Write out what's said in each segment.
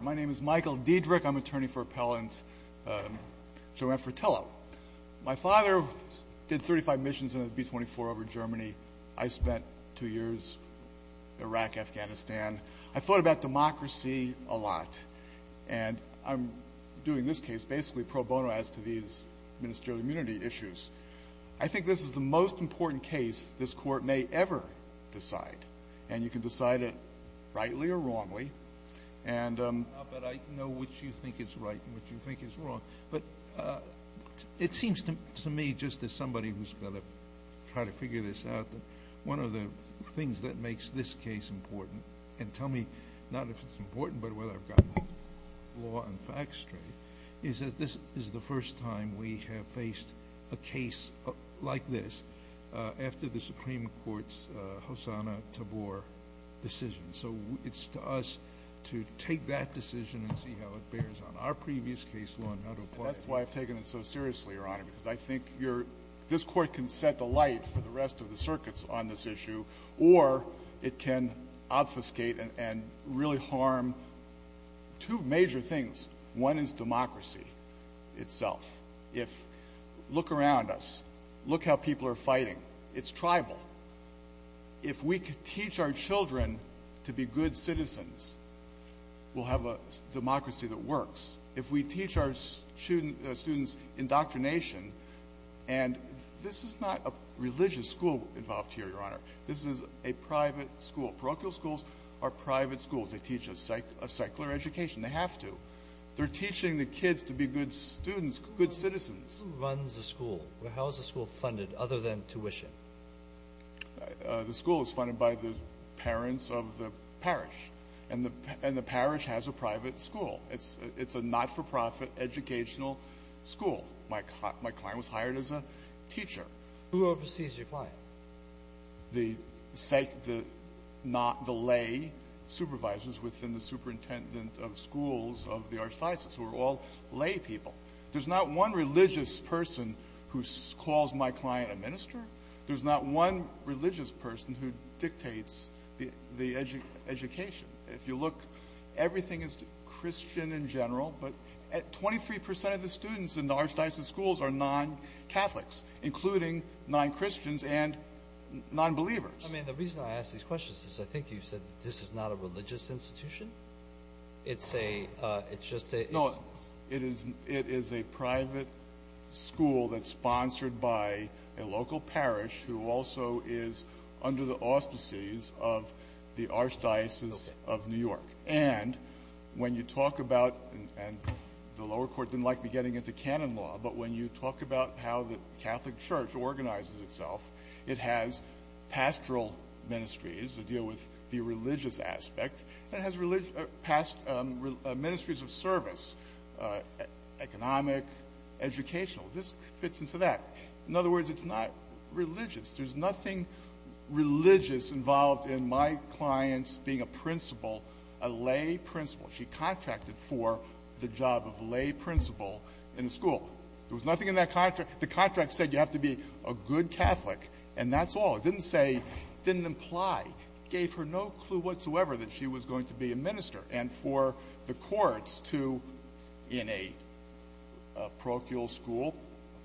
My name is Michael Diedrich. I'm an attorney for Appellant Joanne Fratello. My father did 35 missions in a B-24 over Germany. I spent two years Iraq, Afghanistan. I thought about democracy a lot, and I'm doing this case basically pro bono as to these ministerial immunity issues. I think this is the most important case this Court may ever decide, and you can decide it rightly or wrongly. I know which you think is right and which you think is wrong, but it seems to me, just as somebody who's going to try to figure this out, that one of the things that makes this case important, and tell me not if it's important but whether I've gotten the law and facts straight, is that this is the first time we have faced a case like this after the Supreme Court's Hosanna-Tabor decision. So it's to us to take that decision and see how it bears on our previous case law and how to apply it. That's why I've taken it so seriously, Your Honor, because I think this Court can set the light for the rest of the circuits on this issue, or it can obfuscate and really harm two major things. One is democracy itself. Look around us. Look how people are fighting. It's tribal. If we could teach our children to be good citizens, we'll have a democracy that works. If we teach our students indoctrination, and this is not a religious school involved here, Your Honor. This is a private school. Parochial schools are private schools. They teach a secular education. They have to. They're teaching the kids to be good students, good citizens. This runs a school. How is the school funded other than tuition? The school is funded by the parents of the parish, and the parish has a private school. It's a not-for-profit educational school. My client was hired as a teacher. Who oversees your client? The lay supervisors within the superintendent of schools of the archdiocese, who are all lay people. There's not one religious person who calls my client a minister. There's not one religious person who dictates the education. If you look, everything is Christian in general, but 23 percent of the students in the archdiocese schools are non-Catholics, including non-Christians and non-believers. I mean, the reason I ask these questions is I think you said this is not a religious institution. It's a – it's just a – No, it is a private school that's sponsored by a local parish who also is under the auspices of the archdiocese of New York. And when you talk about – and the lower court didn't like me getting into canon law, but when you talk about how the Catholic Church organizes itself, it has pastoral ministries that deal with the religious aspect, and it has ministries of service, economic, educational. This fits into that. In other words, it's not religious. There's nothing religious involved in my client's being a principal, a lay principal. She contracted for the job of lay principal in the school. There was nothing in that contract. The contract said you have to be a good Catholic, and that's all. It didn't say – it didn't imply, gave her no clue whatsoever that she was going to be a minister. And for the courts to, in a parochial school,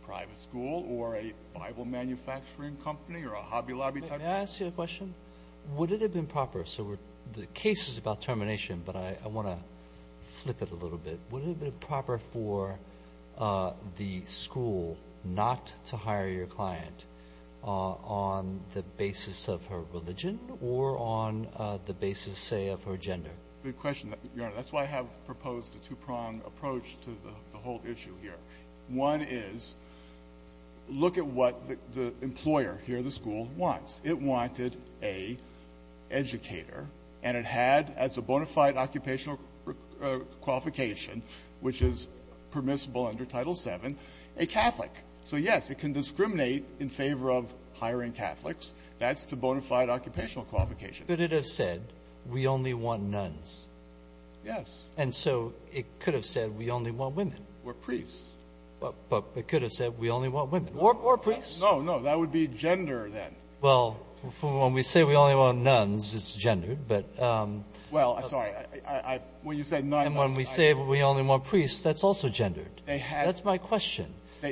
a private school, or a Bible manufacturing company or a Hobby Lobby type thing? May I ask you a question? Would it have been proper – so the case is about termination, but I want to flip it a little bit. Would it have been proper for the school not to hire your client on the basis of her religion or on the basis, say, of her gender? Good question. Your Honor, that's why I have proposed a two-pronged approach to the whole issue here. One is look at what the employer here at the school wants. It wanted a educator, and it had as a bona fide occupational qualification, which is permissible under Title VII, a Catholic. So, yes, it can discriminate in favor of hiring Catholics. That's the bona fide occupational qualification. Could it have said we only want nuns? Yes. And so it could have said we only want women. Or priests. But it could have said we only want women. Or priests. No, no. That would be gender then. Well, when we say we only want nuns, it's gendered. But – Well, I'm sorry. When you said nuns – And when we say we only want priests, that's also gendered. That's my question.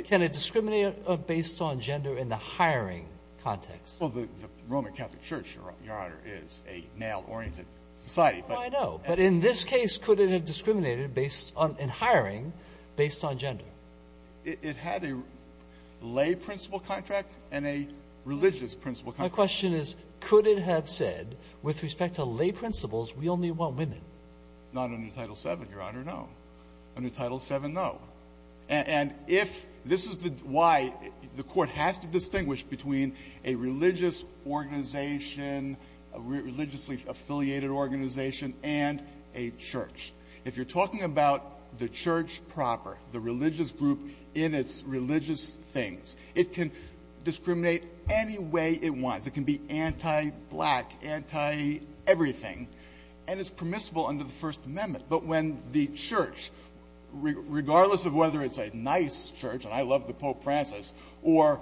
Can it discriminate based on gender in the hiring context? Well, the Roman Catholic Church, Your Honor, is a male-oriented society. I know. But in this case, could it have discriminated based on – in hiring based on gender? It had a lay principal contract and a religious principal contract. My question is, could it have said with respect to lay principals, we only want women? Not under Title VII, Your Honor, no. Under Title VII, no. And if – this is why the Court has to distinguish between a religious organization, a religiously affiliated organization, and a church. If you're talking about the church proper, the religious group in its religious things, it can discriminate any way it wants. It can be anti-black, anti-everything, and it's permissible under the First Amendment. But when the church, regardless of whether it's a nice church, and I love the Pope Francis, or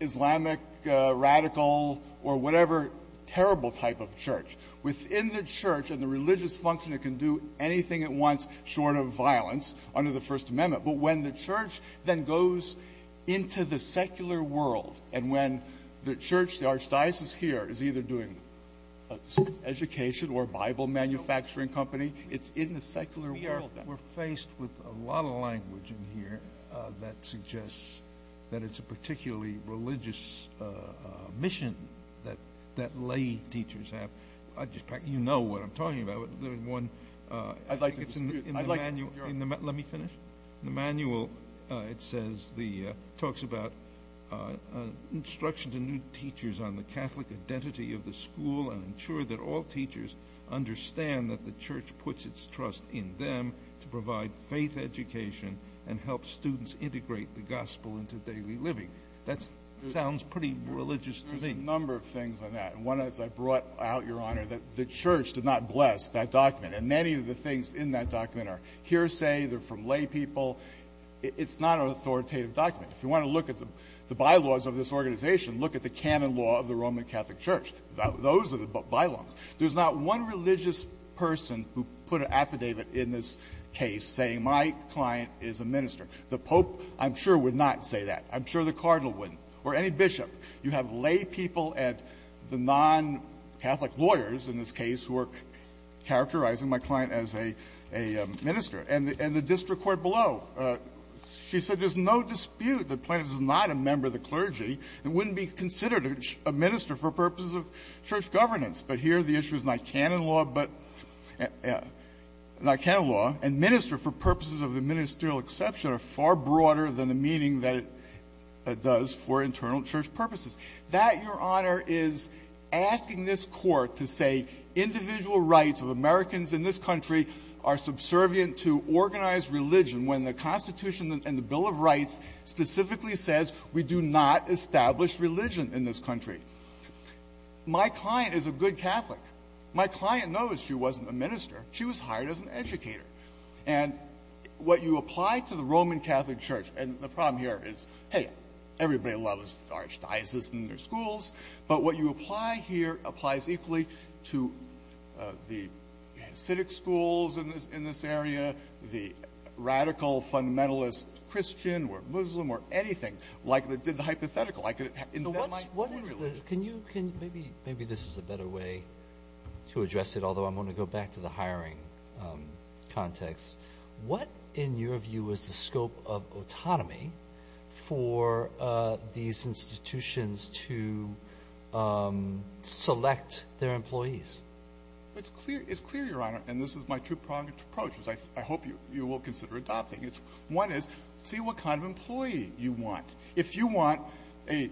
Islamic radical or whatever terrible type of church, within the church and the religious function, it can do anything it wants short of violence under the First Amendment. But when the church then goes into the secular world, and when the church, the archdiocese here, is either doing education or Bible manufacturing company, it's in the secular world. We're faced with a lot of language in here that suggests that it's a particularly religious mission that lay teachers have. You know what I'm talking about. Let me finish. In the manual, it talks about instruction to new teachers on the Catholic identity of the school and ensure that all teachers understand that the church puts its trust in them to provide faith education and help students integrate the gospel into daily living. That sounds pretty religious to me. There's a number of things on that. One is I brought out, Your Honor, that the church did not bless that document. And many of the things in that document are hearsay, they're from lay people. It's not an authoritative document. If you want to look at the bylaws of this organization, look at the canon law of the Roman Catholic Church. Those are the bylaws. There's not one religious person who put an affidavit in this case saying my client is a minister. The Pope, I'm sure, would not say that. I'm sure the cardinal wouldn't. Or any bishop. You have lay people and the non-Catholic lawyers in this case who are characterizing my client as a minister. And the district court below, she said there's no dispute that Plano is not a member of the clergy and wouldn't be considered a minister for purposes of church governance. But here the issue is not canon law, but not canon law. And minister for purposes of the ministerial exception are far broader than the meaning that it does for internal church purposes. That, Your Honor, is asking this Court to say individual rights of Americans in this country are subservient to organized religion when the Constitution and the Bill of Rights specifically says we do not establish religion in this country. My client is a good Catholic. My client knows she wasn't a minister. She was hired as an educator. And what you apply to the Roman Catholic Church, and the problem here is, hey, everybody loves the archdiocese and their schools, but what you apply here applies equally to the Hasidic schools in this area, the radical fundamentalist Christian or Muslim or anything, like did the hypothetical. I could invent my own religion. What is the – can you – maybe this is a better way to address it, although I'm going to go back to the hiring context. What, in your view, is the scope of autonomy for these institutions to select their employees? It's clear, Your Honor, and this is my two-pronged approach, which I hope you will consider adopting. One is, see what kind of employee you want. If you want a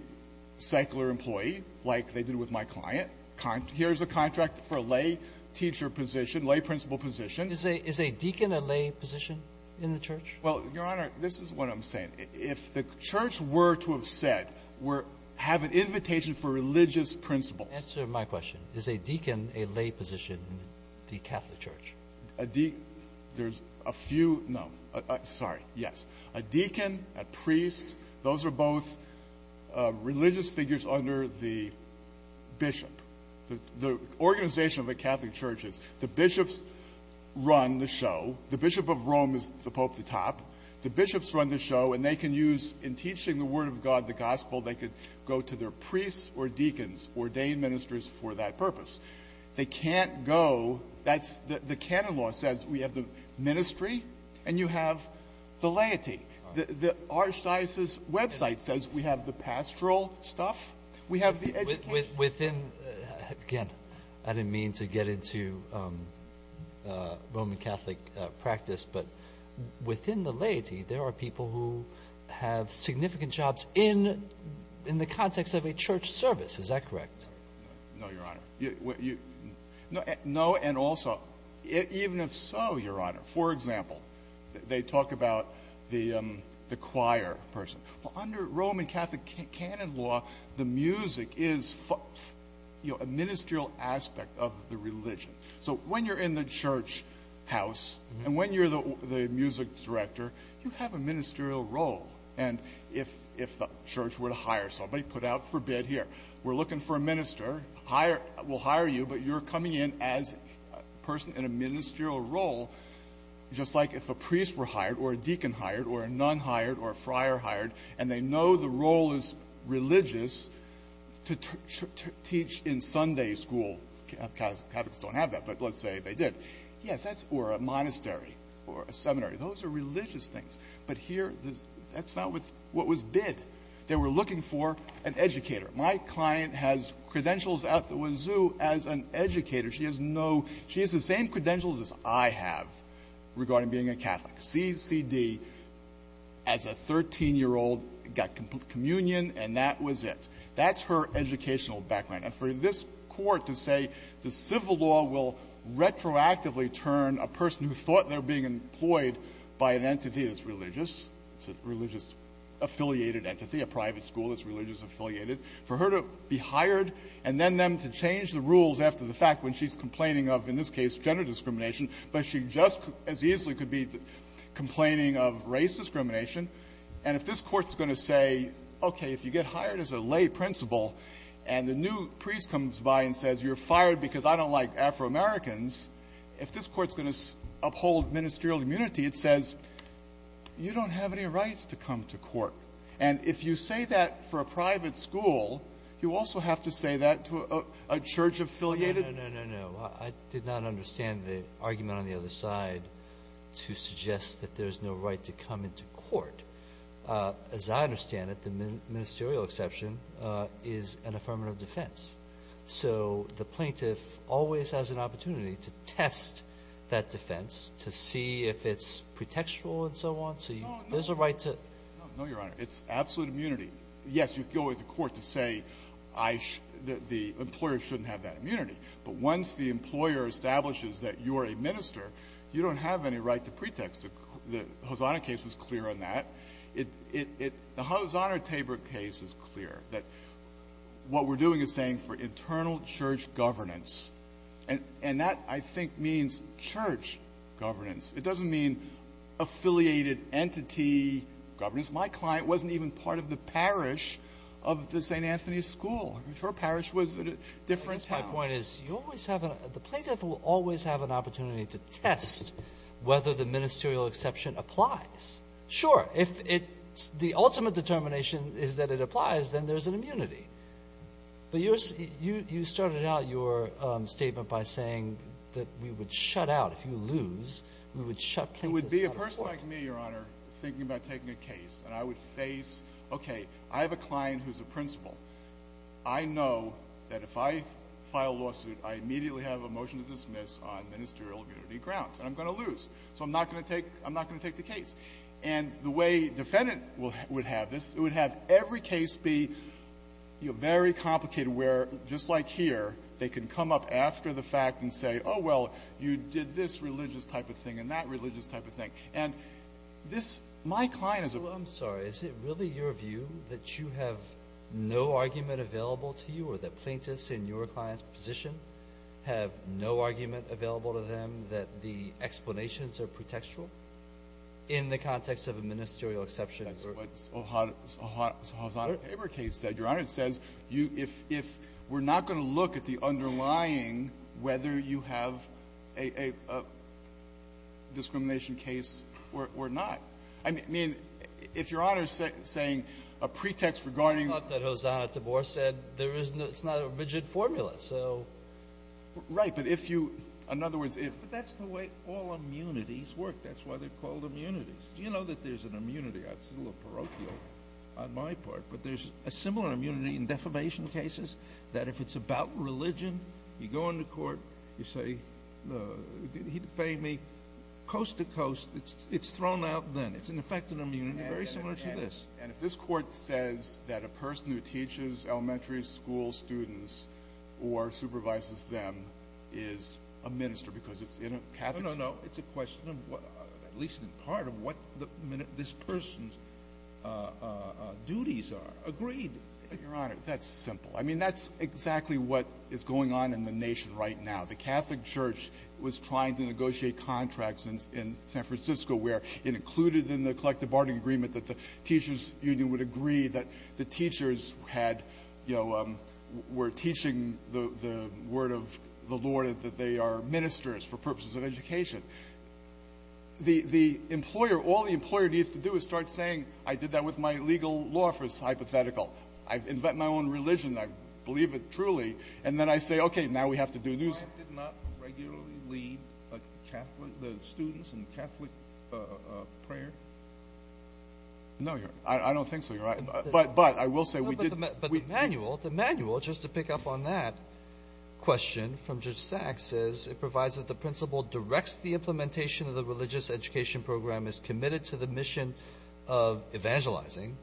secular employee, like they did with my client, here's a contract for a lay teacher position, lay principal position. Is a deacon a lay position in the Church? Well, Your Honor, this is what I'm saying. If the Church were to have said, have an invitation for religious principals. Answer my question. Is a deacon a lay position in the Catholic Church? There's a few – no. Sorry. Yes. A deacon, a priest, those are both religious figures under the bishop. The organization of a Catholic Church is the bishops run the show. The bishop of Rome is the pope at the top. The bishops run the show, and they can use, in teaching the word of God, the gospel, they could go to their priests or deacons, ordain ministers for that purpose. They can't go – that's – the canon law says we have the ministry and you have the laity. The Archdiocese website says we have the pastoral stuff. We have the education. Within – again, I didn't mean to get into Roman Catholic practice, but within the laity there are people who have significant jobs in the context of a church service. Is that correct? No, Your Honor. No, and also, even if so, Your Honor, for example, they talk about the choir person. Under Roman Catholic canon law, the music is a ministerial aspect of the religion. So when you're in the church house and when you're the music director, you have a ministerial role. And if the church were to hire somebody, put out for bid here, we're looking for a minister, we'll hire you, but you're coming in as a person in a ministerial role, just like if a priest were hired or a deacon hired or a nun hired or a friar hired and they know the role is religious to teach in Sunday school. Catholics don't have that, but let's say they did. Yes, or a monastery or a seminary. Those are religious things. But here, that's not what was bid. They were looking for an educator. My client has credentials at the wazoo as an educator. She has the same credentials as I have regarding being a Catholic, CCD, as a 13-year-old, got communion, and that was it. That's her educational background. And for this Court to say the civil law will retroactively turn a person who thought they're being employed by an entity that's religious, it's a religious-affiliated entity, a private school that's religious-affiliated, for her to be hired and then them to change the rules after the fact when she's complaining of, in this case, gender discrimination, but she just as easily could be complaining of race discrimination. And if this Court's going to say, okay, if you get hired as a lay principal and the new priest comes by and says, you're fired because I don't like Afro-Americans, if this Court's going to uphold ministerial immunity, it says, you don't have any rights to come to court. And if you say that for a private school, you also have to say that to a church-affiliated I did not understand the argument on the other side to suggest that there's no right to come into court. As I understand it, the ministerial exception is an affirmative defense. So the plaintiff always has an opportunity to test that defense to see if it's pretextual and so on, so there's a right to ---- No, Your Honor. It's absolute immunity. Yes, you go into court to say the employer shouldn't have that immunity, but once the employer establishes that you're a minister, you don't have any right to pretext. The Hosanna case was clear on that. The Hosanna-Tabor case is clear that what we're doing is saying for internal church governance, and that, I think, means church governance. It doesn't mean affiliated entity governance. My client wasn't even part of the parish of the St. Anthony school. Her parish was a different town. My point is you always have a ---- the plaintiff will always have an opportunity to test whether the ministerial exception applies. Sure, if it's the ultimate determination is that it applies, then there's an immunity. But you started out your statement by saying that we would shut out. If you lose, we would shut plaintiffs out. It would be a person like me, Your Honor, thinking about taking a case. And I would face, okay, I have a client who's a principal. I know that if I file a lawsuit, I immediately have a motion to dismiss on ministerial immunity grounds, and I'm going to lose. So I'm not going to take the case. And the way defendant would have this, it would have every case be very complicated where, just like here, they can come up after the fact and say, oh, well, you did this religious type of thing. And this ---- my client is a ---- Well, I'm sorry. Is it really your view that you have no argument available to you or that plaintiffs in your client's position have no argument available to them that the explanations are pretextual in the context of a ministerial exception? That's what O'Hara's paper case said, Your Honor. It says if we're not going to look at the underlying whether you have a discrimination case or not. I mean, if Your Honor is saying a pretext regarding ---- I thought that Hosanna Tabor said there is no ---- it's not a rigid formula. So ---- Right. But if you ---- in other words, if ---- But that's the way all immunities work. That's why they're called immunities. Do you know that there's an immunity? This is a little parochial on my part, but there's a similar immunity in defamation cases that if it's about religion, you go into court, you say, he defamed me. Coast to coast, it's thrown out then. It's an effective immunity, very similar to this. And if this Court says that a person who teaches elementary school students or supervises them is a minister because it's in a Catholic ---- I mean, that's exactly what is going on in the nation right now. The Catholic Church was trying to negotiate contracts in San Francisco where it included in the collective bargaining agreement that the teachers union would agree that the teachers had, you know, were teaching the word of the Lord that they are ministers for purposes of education. The employer, all the employer needs to do is start saying, I did that with my legal law first hypothetical. I've invented my own religion. I believe it truly. And then I say, okay, now we have to do this. Did not regularly lead a Catholic, the students in Catholic prayer? No, Your Honor. I don't think so, Your Honor. But I will say we did ---- But the manual, just to pick up on that question from Judge Sachs says it provides that the principal directs the implementation of the religious education program is committed to the mission of evangelizing,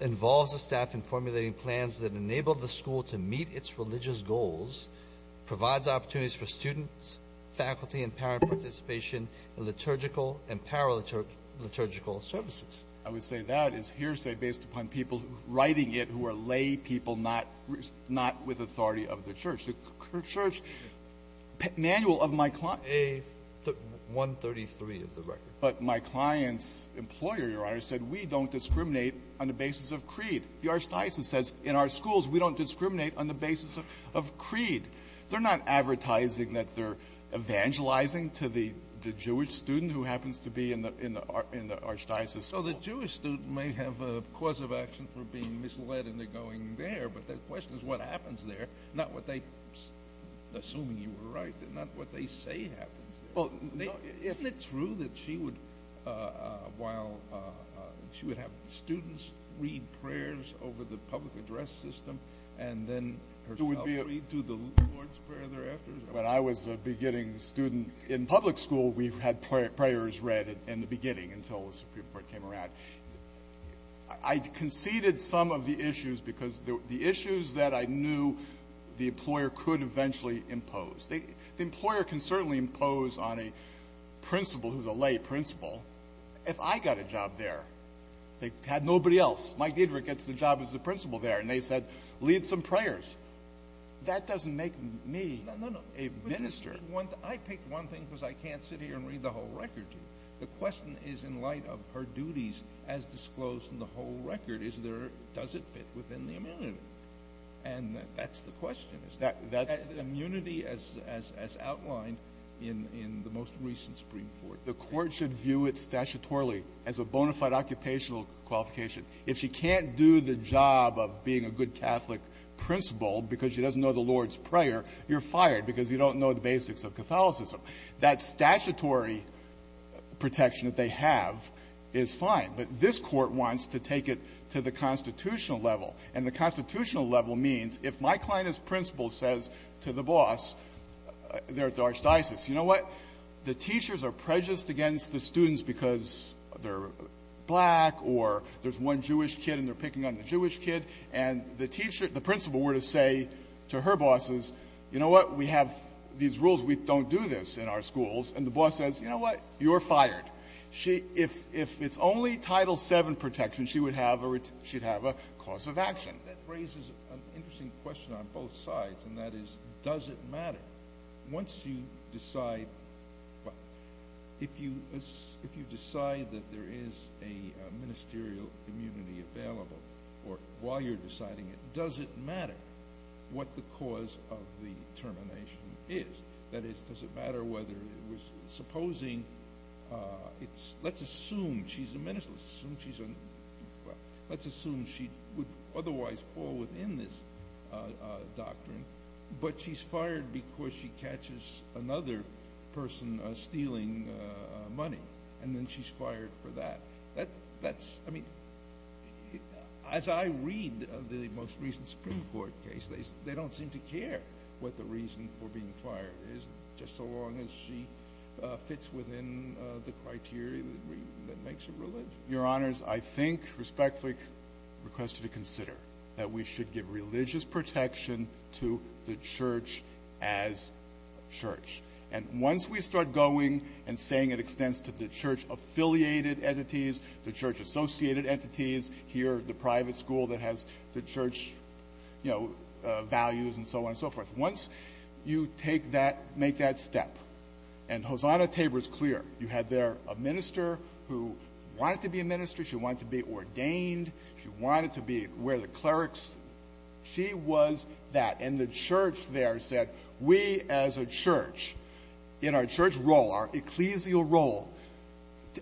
involves the staff in formulating plans that enable the school to meet its religious goals, provides opportunities for students, faculty, and parent participation in liturgical and paraliturgical services. I would say that is hearsay based upon people writing it who are lay people not with authority of the church. The church manual of my client ---- A-133 of the record. But my client's employer, Your Honor, said we don't discriminate on the basis of creed. The archdiocese says in our schools we don't discriminate on the basis of creed. They're not advertising that they're evangelizing to the Jewish student who happens to be in the archdiocese school. So the Jewish student may have a cause of action for being misled and they're going there. But the question is what happens there, not what they, assuming you were right, not what they say happens there. Isn't it true that she would have students read prayers over the public address system and then herself read to the Lord's Prayer thereafter? When I was a beginning student in public school we had prayers read in the beginning until the Supreme Court came around. I conceded some of the issues because the issues that I knew the employer could eventually impose. The employer can certainly impose on a principal who's a lay principal if I got a job there. They had nobody else. Mike Diedrich gets the job as a principal there and they said lead some prayers. That doesn't make me a minister. I picked one thing because I can't sit here and read the whole record to you. The question is in light of her duties as disclosed in the whole record, does it fit within the amenity? And that's the question. That's the immunity as outlined in the most recent Supreme Court. The court should view it statutorily as a bona fide occupational qualification. If she can't do the job of being a good Catholic principal because she doesn't know the Lord's Prayer, you're fired because you don't know the basics of Catholicism. So that statutory protection that they have is fine. But this Court wants to take it to the constitutional level. And the constitutional level means if my client as principal says to the boss there at the archdiocese, you know what, the teachers are prejudiced against the students because they're black or there's one Jewish kid and they're picking on the Jewish kid, and the teacher, the principal were to say to her bosses, you know what, we have these rules, we don't do this in our schools, and the boss says, you know what, you're fired. If it's only Title VII protection, she would have a cause of action. That raises an interesting question on both sides, and that is, does it matter? Once you decide if you decide that there is a ministerial immunity available or while you're deciding it, does it matter what the cause of the termination is? That is, does it matter whether it was supposing, let's assume she's a minister, let's assume she would otherwise fall within this doctrine, but she's fired because she catches another person stealing money, and then she's fired for that. That's, I mean, as I read the most recent Supreme Court case, they don't seem to care what the reason for being fired is, just so long as she fits within the criteria that makes it religion. Your Honors, I think respectfully request you to consider that we should give religious protection to the church as church, and once we start going and saying it extends to the church-affiliated entities, the church-associated entities, here the private school that has the church values and so on and so forth. Once you take that, make that step, and Hosanna Tabor is clear. You had there a minister who wanted to be a minister. She wanted to be ordained. She wanted to be where the clerics. She was that. And the church there said, we as a church, in our church role, our ecclesial role,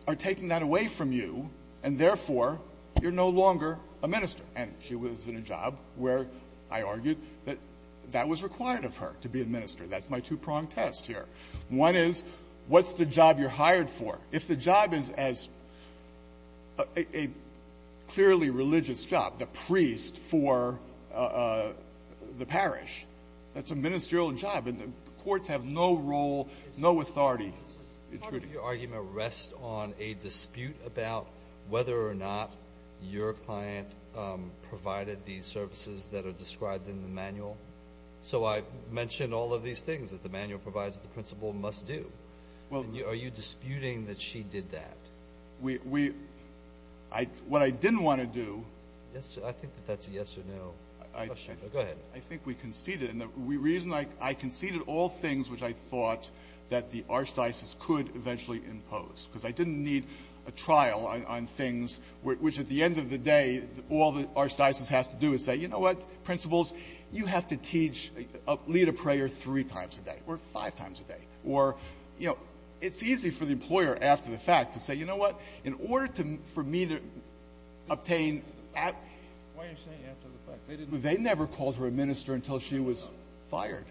are taking that away from you, and therefore, you're no longer a minister. And she was in a job where I argued that that was required of her, to be a minister. That's my two-pronged test here. One is, what's the job you're hired for? If the job is as a clearly religious job, the priest for the parish, that's a ministerial job, and the courts have no role, no authority. Part of your argument rests on a dispute about whether or not your client provided the services that are described in the manual. So I mentioned all of these things that the manual provides that the principal must do. Are you disputing that she did that? What I didn't want to do— I think that that's a yes or no question. Go ahead. I think we conceded. And the reason I conceded all things which I thought that the archdiocese could eventually impose, because I didn't need a trial on things, which at the end of the day, all the archdiocese has to do is say, you know what, principals, you have to lead a prayer three times a day or five times a day. Or, you know, it's easy for the employer, after the fact, to say, you know what, in order for me to obtain— Why are you saying after the fact? They never called her a minister until she was fired.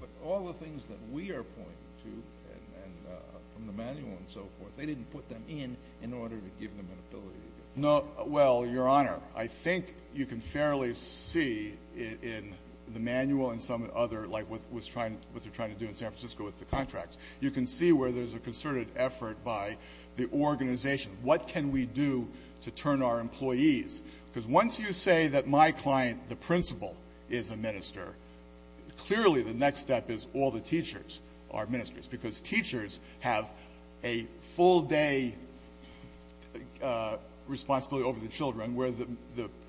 But all the things that we are pointing to from the manual and so forth, they didn't No, well, Your Honor, I think you can fairly see in the manual and some other—like what they're trying to do in San Francisco with the contracts. You can see where there's a concerted effort by the organization. What can we do to turn our employees? Because once you say that my client, the principal, is a minister, clearly the next step is all the teachers are ministers. Because teachers have a full-day responsibility over the children, where the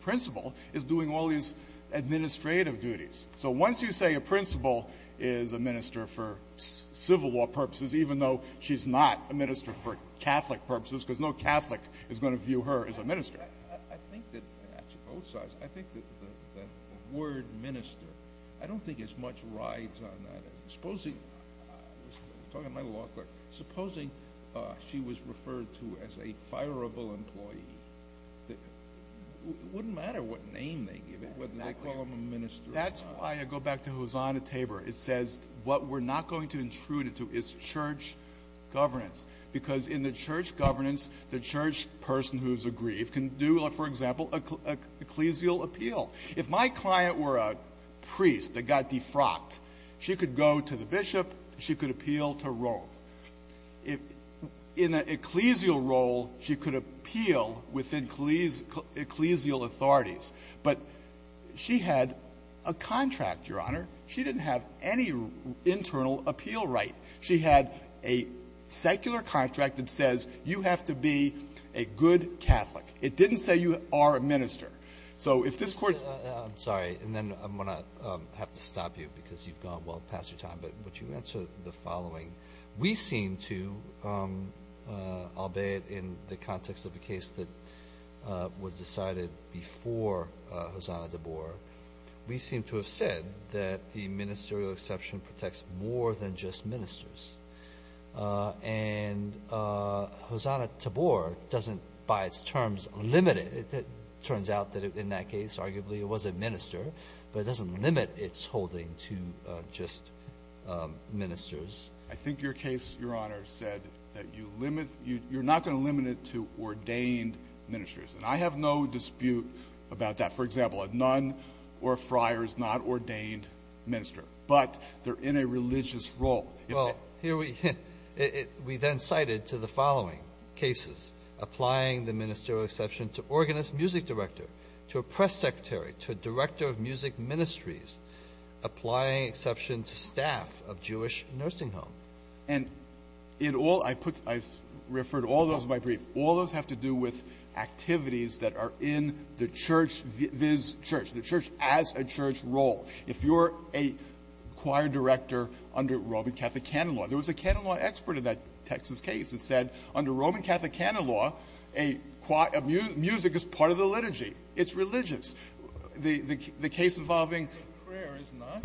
principal is doing all these administrative duties. So once you say a principal is a minister for civil law purposes, even though she's not a minister for Catholic purposes, because no Catholic is going to view her as a minister. I think that—actually, both sides—I think that the word minister, I don't think as much rides on that. Supposing—I'm talking to my law clerk—supposing she was referred to as a fireable employee, it wouldn't matter what name they give it, whether they call them a minister or not. That's why I go back to Hosanna Tabor. It says what we're not going to intrude into is church governance. Because in the church governance, the church person who's aggrieved can do, for example, ecclesial appeal. If my client were a priest that got defrocked, she could go to the bishop, she could appeal to Rome. In an ecclesial role, she could appeal within ecclesial authorities. But she had a contract, Your Honor. She didn't have any internal appeal right. She had a secular contract that says you have to be a good Catholic. It didn't say you are a minister. So if this Court— I'm sorry. And then I'm going to have to stop you because you've gone well past your time. But would you answer the following? We seem to, albeit in the context of a case that was decided before Hosanna Tabor, we seem to have said that the ministerial exception protects more than just ministers. And Hosanna Tabor doesn't, by its terms, limit it. It turns out that in that case, arguably, it was a minister, but it doesn't limit its holding to just ministers. I think your case, Your Honor, said that you limit—you're not going to limit it to ordained ministers. And I have no dispute about that. For example, a nun or a friar is not an ordained minister, but they're in a religious role. Well, here we—we then cited to the following cases, applying the ministerial exception to organist, music director, to a press secretary, to a director of music ministries, applying exception to staff of Jewish nursing home. And in all—I put—I referred to all those in my brief. All those have to do with activities that are in the church, this church, the church as a church role. If you're a choir director under Roman Catholic canon law—there was a canon law expert in that Texas case that said under Roman Catholic canon law, a choir—music is part of the liturgy. It's religious. The case involving— Prayer is not.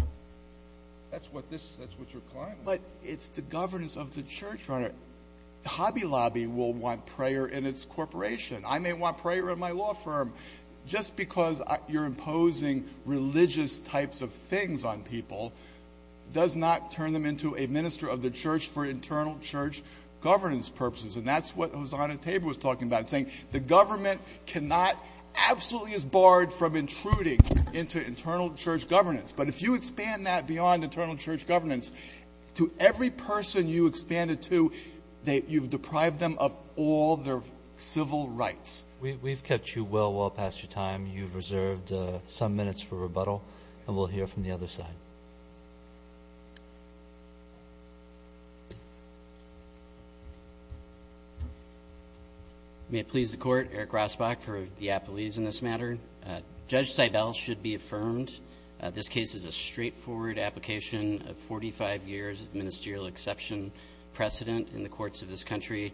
That's what this—that's what you're claiming. But it's the governance of the church, Your Honor. Hobby Lobby will want prayer in its corporation. I may want prayer in my law firm. Just because you're imposing religious types of things on people does not turn them into a minister of the church for internal church governance purposes. And that's what Hosanna Tabor was talking about, saying the government cannot—absolutely is barred from intruding into internal church governance. But if you expand that beyond internal church governance, to every person you expand it to, you've deprived them of all their civil rights. We've kept you well, well past your time. You've reserved some minutes for rebuttal. And we'll hear from the other side. May it please the Court, Eric Rosbach for the appellees in this matter. Judge Seibel should be affirmed this case is a straightforward application of 45 years of ministerial exception precedent in the courts of this country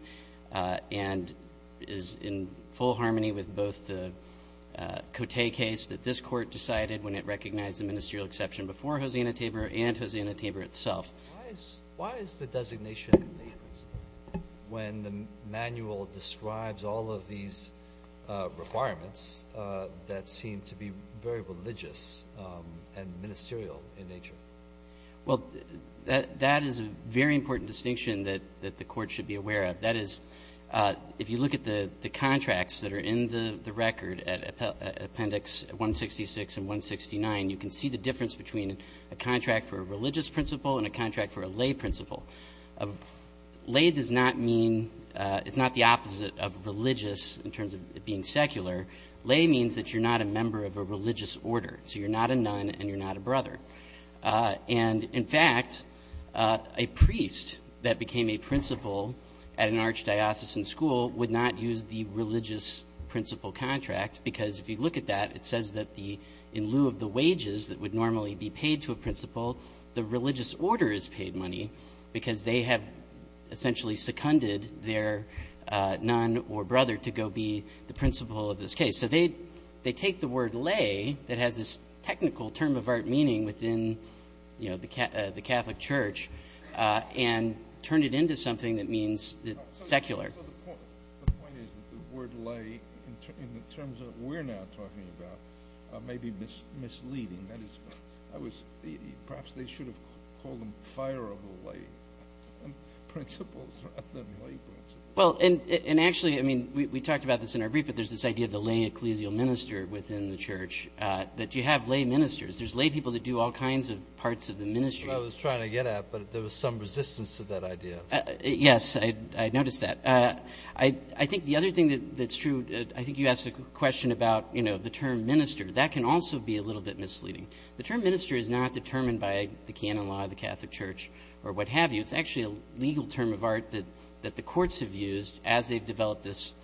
and is in full harmony with both the Cote case that this court decided when it recognized the ministerial exception before Hosanna Tabor and Hosanna Tabor itself. Why is the designation when the manual describes all of these requirements that seem to be very religious and ministerial in nature? Well, that is a very important distinction that the Court should be aware of. That is, if you look at the contracts that are in the record at Appendix 166 and 169, you can see the difference between a contract for a religious principle and a contract for a lay principle. Lay does not mean — it's not the opposite of religious in terms of it being secular. Lay means that you're not a member of a religious order. So you're not a nun and you're not a brother. And, in fact, a priest that became a principal at an archdiocesan school would not use the religious principle contract, because if you look at that, it says that the — in lieu of the wages that would normally be paid to a principal, the religious order is paid money because they have essentially seconded their nun or brother to go be the principal of this case. So they take the word lay that has this technical term-of-art meaning within, you know, the Catholic Church and turn it into something that means secular. So the point is that the word lay in the terms that we're now talking about may be misleading. That is, I was — perhaps they should have called them fireable lay principles rather than lay principles. Well, and actually, I mean, we talked about this in our brief, but there's this idea of the lay ecclesial minister within the church, that you have lay ministers. There's lay people that do all kinds of parts of the ministry. That's what I was trying to get at, but there was some resistance to that idea. Yes, I noticed that. I think the other thing that's true — I think you asked a question about, you know, the term minister. That can also be a little bit misleading. The term minister is not determined by the canon law of the Catholic Church or what have you. We've had this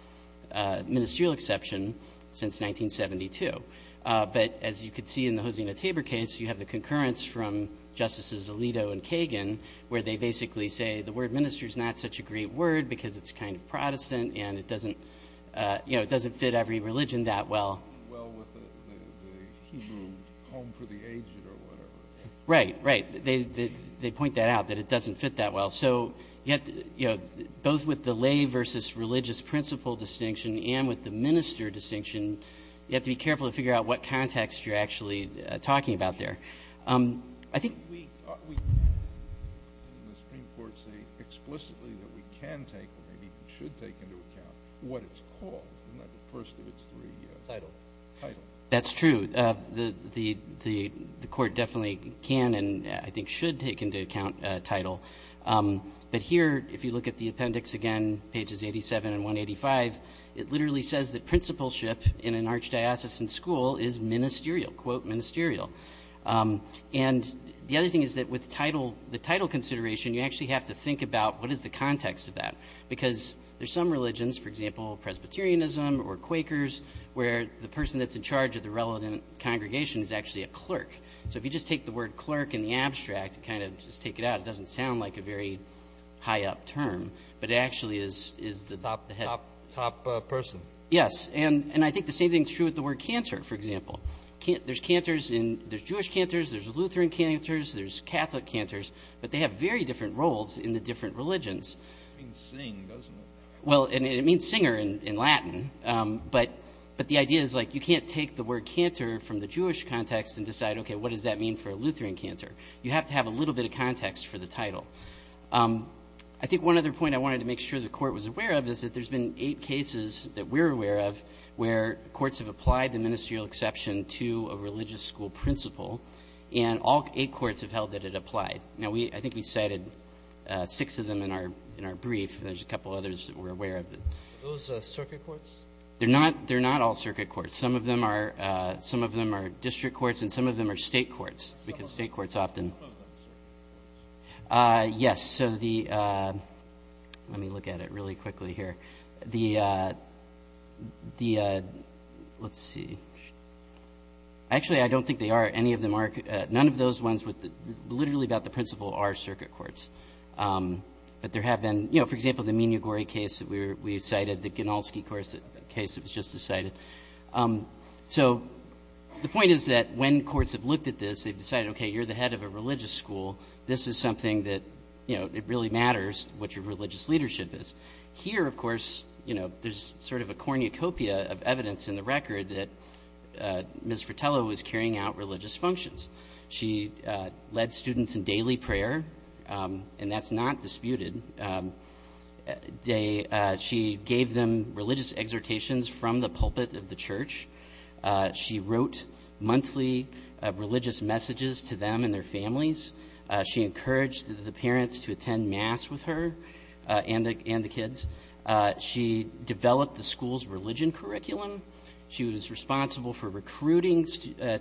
ministerial exception since 1972. But as you could see in the Hosina-Tabor case, you have the concurrence from Justices Alito and Kagan, where they basically say the word minister is not such a great word because it's kind of Protestant and it doesn't — you know, it doesn't fit every religion that well. Well, with the Hebrew home for the aged or whatever. Right, right. They point that out, that it doesn't fit that well. So you have to — you know, both with the lay versus religious principle distinction and with the minister distinction, you have to be careful to figure out what context you're actually talking about there. I think — We can in the Supreme Court say explicitly that we can take or maybe even should take into account what it's called, not the first of its three — Title. Title. That's true. The Court definitely can and I think should take into account Title. But here, if you look at the appendix again, pages 87 and 185, it literally says that principalship in an archdiocesan school is ministerial, quote ministerial. And the other thing is that with Title — the Title consideration, you actually have to think about what is the context of that, because there's some religions, for example, Presbyterianism or Quakers, where the person that's in charge of the relevant congregation is actually a clerk. So if you just take the word clerk in the abstract and kind of just take it out, it doesn't sound like a very high-up term, but it actually is the — Top person. Yes. And I think the same thing is true with the word cantor, for example. There's cantors in — there's Jewish cantors, there's Lutheran cantors, there's Catholic cantors, but they have very different roles in the different religions. It means sing, doesn't it? Well, and it means singer in Latin. But the idea is, like, you can't take the word cantor from the Jewish context and decide, okay, what does that mean for a Lutheran cantor? You have to have a little bit of context for the title. I think one other point I wanted to make sure the Court was aware of is that there's been eight cases that we're aware of where courts have applied the ministerial exception to a religious school principal, and all eight courts have held that it applied. Now, I think we cited six of them in our brief, and there's a couple others that we're aware of. Are those circuit courts? They're not all circuit courts. Some of them are district courts and some of them are state courts, because state courts often — Some of them are circuit courts. Yes. So the — let me look at it really quickly here. The — let's see. Actually, I don't think they are. Any of them are. None of those ones, literally about the principal, are circuit courts. But there have been — you know, for example, the Mignogore case that we cited, the Ganulski case that was just decided. So the point is that when courts have looked at this, they've decided, okay, you're the head of a religious school, this is something that, you know, it really matters what your religious leadership is. Here, of course, you know, there's sort of a cornucopia of evidence in the record that Ms. Fratello was carrying out religious functions. She led students in daily prayer, and that's not disputed. She gave them religious exhortations from the pulpit of the church. She wrote monthly religious messages to them and their families. She encouraged the parents to attend mass with her and the kids. She developed the school's religion curriculum. She was responsible for recruiting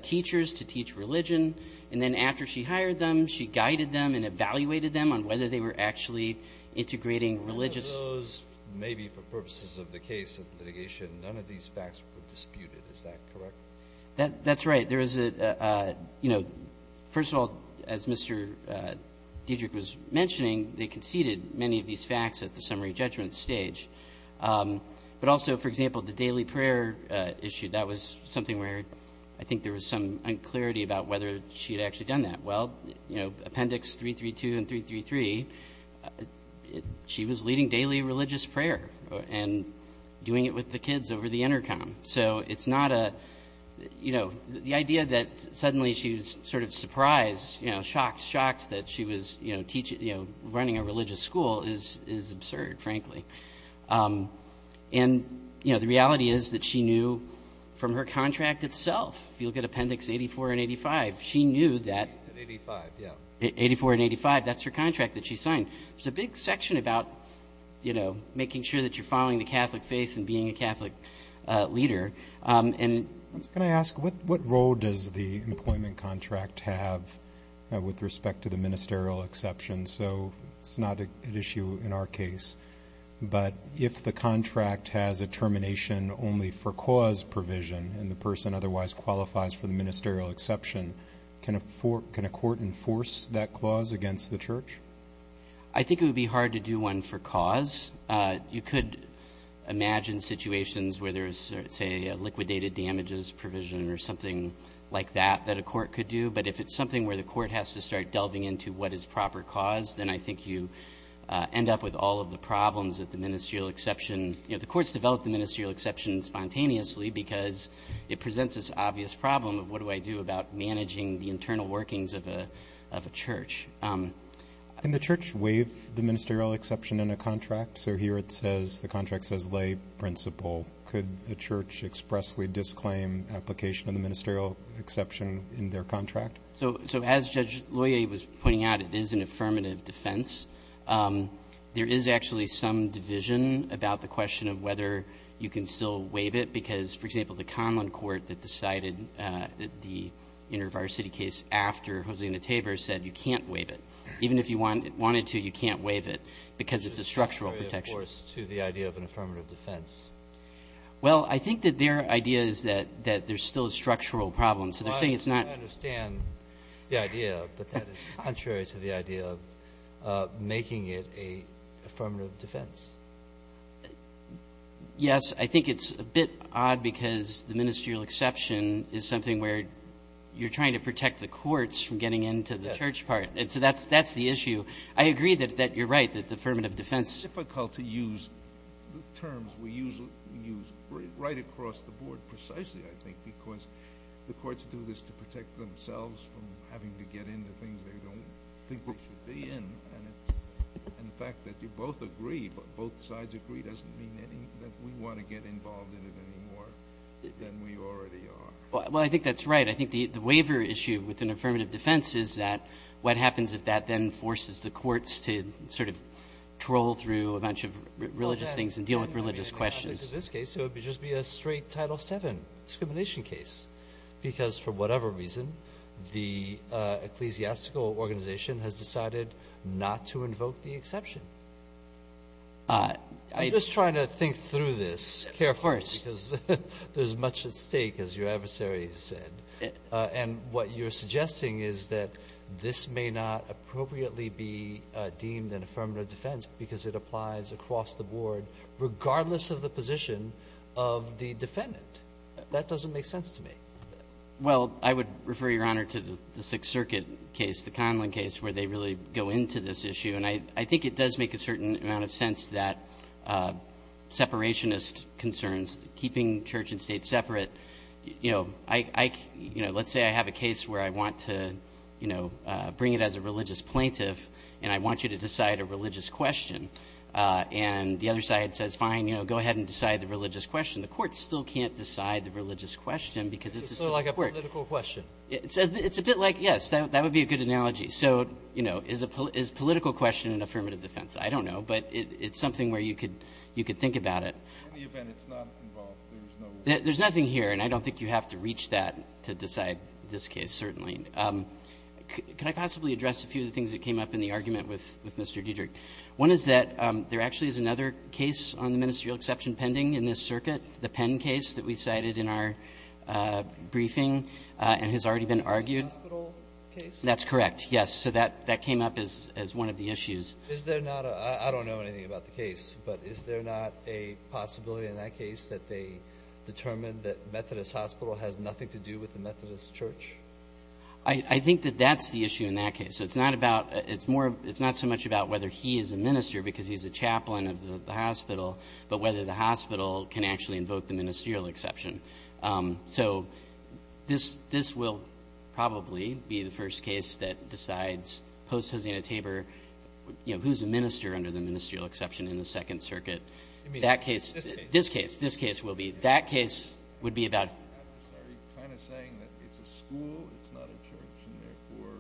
teachers to teach religion. And then after she hired them, she guided them and evaluated them on whether they were actually integrating religious — None of those, maybe for purposes of the case of litigation, none of these facts were disputed. Is that correct? That's right. There is a — you know, first of all, as Mr. Dedrick was mentioning, they conceded many of these facts at the summary judgment stage. But also, for example, the daily prayer issue, that was something where I think there was some unclarity about whether she had actually done that. Well, you know, Appendix 332 and 333, she was leading daily religious prayer and doing it with the kids over the intercom. So it's not a — you know, the idea that suddenly she was sort of surprised, you know, shocked, shocked that she was, you know, running a religious school is absurd, frankly. And, you know, the reality is that she knew from her contract itself. If you look at Appendix 84 and 85, she knew that — At 85, yeah. At 84 and 85, that's her contract that she signed. There's a big section about, you know, making sure that you're following the Catholic faith and being a Catholic leader. And — Can I ask, what role does the employment contract have with respect to the ministerial exception? So it's not an issue in our case. But if the contract has a termination only for cause provision and the person otherwise qualifies for the ministerial exception, can a court enforce that clause against the church? I think it would be hard to do one for cause. You could imagine situations where there's, say, a liquidated damages provision or something like that that a court could do. But if it's something where the court has to start delving into what is proper cause, then I think you end up with all of the problems that the ministerial exception — you know, the courts develop the ministerial exception spontaneously because it presents this obvious problem of what do I do about managing the internal workings of a church. Can the church waive the ministerial exception in a contract? So here it says — the contract says lay principle. Could a church expressly disclaim application of the ministerial exception in their contract? So as Judge Loyer was pointing out, it is an affirmative defense. There is actually some division about the question of whether you can still waive it because, for example, the Conlon court that decided the InterVarsity case after Hosanna Tabor said you can't waive it. Even if you wanted to, you can't waive it because it's a structural protection. But that's contrary, of course, to the idea of an affirmative defense. Well, I think that their idea is that there's still a structural problem. So they're saying it's not — Well, I understand the idea, but that is contrary to the idea of making it a affirmative defense. Yes. I think it's a bit odd because the ministerial exception is something where you're trying to protect the courts from getting into the church part. Yes. And so that's the issue. I agree that you're right, that the affirmative defense — It's difficult to use the terms we use right across the board precisely, I think, because the courts do this to protect themselves from having to get into things they don't think they should be in. And the fact that you both agree, both sides agree, doesn't mean that we want to get involved in it anymore than we already are. Well, I think that's right. I think the waiver issue with an affirmative defense is that what happens if that then forces the courts to sort of troll through a bunch of religious things and deal with religious questions? Well, that would be an exception to this case. It would just be a straight Title VII discrimination case because, for whatever reason, the ecclesiastical organization has decided not to invoke the exception. I'm just trying to think through this carefully because there's much at stake, as your adversary said. And what you're suggesting is that this may not appropriately be deemed an affirmative defense because it applies across the board regardless of the position of the defendant. That doesn't make sense to me. Well, I would refer, Your Honor, to the Sixth Circuit case, the Conlin case, where they really go into this issue. And I think it does make a certain amount of sense that separationist concerns, keeping church and state separate, you know, let's say I have a case where I want to, you know, bring it as a religious plaintiff and I want you to decide a religious question. And the other side says, fine, you know, go ahead and decide the religious question. The courts still can't decide the religious question because it's a court. It's sort of like a political question. It's a bit like, yes, that would be a good analogy. So, you know, is political question an affirmative defense? I don't know. But it's something where you could think about it. In any event, it's not involved. There's no rule. There's nothing here. And I don't think you have to reach that to decide this case, certainly. Could I possibly address a few of the things that came up in the argument with Mr. Diederich? One is that there actually is another case on the ministerial exception pending in this circuit, the Penn case that we cited in our briefing and has already been argued. The hospital case? That's correct, yes. So that came up as one of the issues. Is there not a – I don't know anything about the case. But is there not a possibility in that case that they determined that Methodist Hospital has nothing to do with the Methodist Church? I think that that's the issue in that case. It's not about – it's more – it's not so much about whether he is a minister because he's a chaplain of the hospital, but whether the hospital can actually invoke the ministerial exception. So this will probably be the first case that decides post-Hosina-Tabor, you know, who's a minister under the ministerial exception in the Second Circuit. That case – this case. This case will be. That case would be about – Are you kind of saying that it's a school, it's not a church, and therefore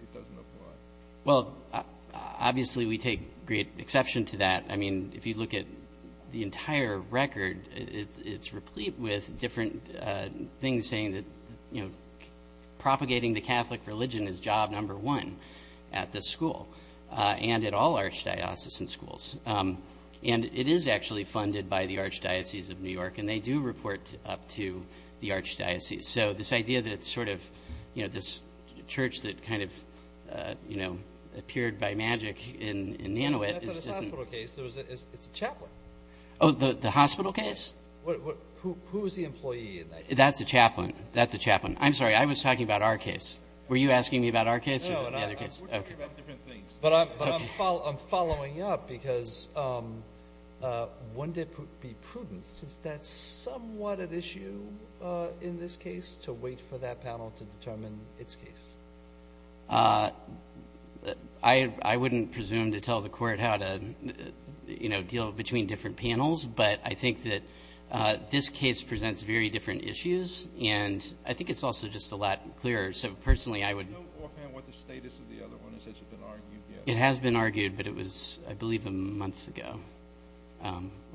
it doesn't apply? Well, obviously we take great exception to that. I mean, if you look at the entire record, it's replete with different things saying that, you know, propagating the Catholic religion is job number one at this school. And at all archdiocesan schools. And it is actually funded by the Archdiocese of New York. And they do report up to the Archdiocese. So this idea that it's sort of, you know, this church that kind of, you know, appeared by magic in Nanowit is just – It's not the hospital case. It's a chaplain. Oh, the hospital case? Who is the employee in that case? That's a chaplain. That's a chaplain. I'm sorry. I was talking about our case. Were you asking me about our case or the other case? We're talking about different things. But I'm following up because wouldn't it be prudent, since that's somewhat at issue in this case, to wait for that panel to determine its case? I wouldn't presume to tell the court how to, you know, deal between different panels. But I think that this case presents very different issues. And I think it's also just a lot clearer. So personally, I would – Do you know offhand what the status of the other one is? Has it been argued yet? It has been argued, but it was, I believe, a month ago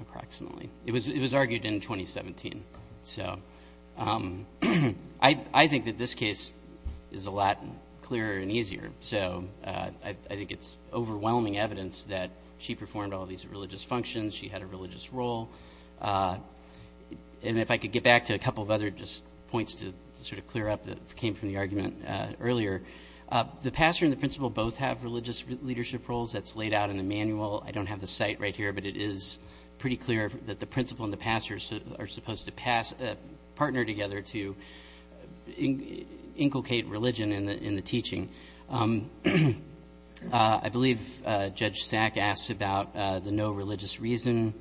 approximately. It was argued in 2017. So I think that this case is a lot clearer and easier. So I think it's overwhelming evidence that she performed all these religious functions, she had a religious role. And if I could get back to a couple of other just points to sort of clear up that came from the argument earlier. The pastor and the principal both have religious leadership roles. That's laid out in the manual. I don't have the site right here, but it is pretty clear that the principal and the pastor are supposed to partner together to inculcate religion in the teaching. I believe Judge Sack asked about the no religious reason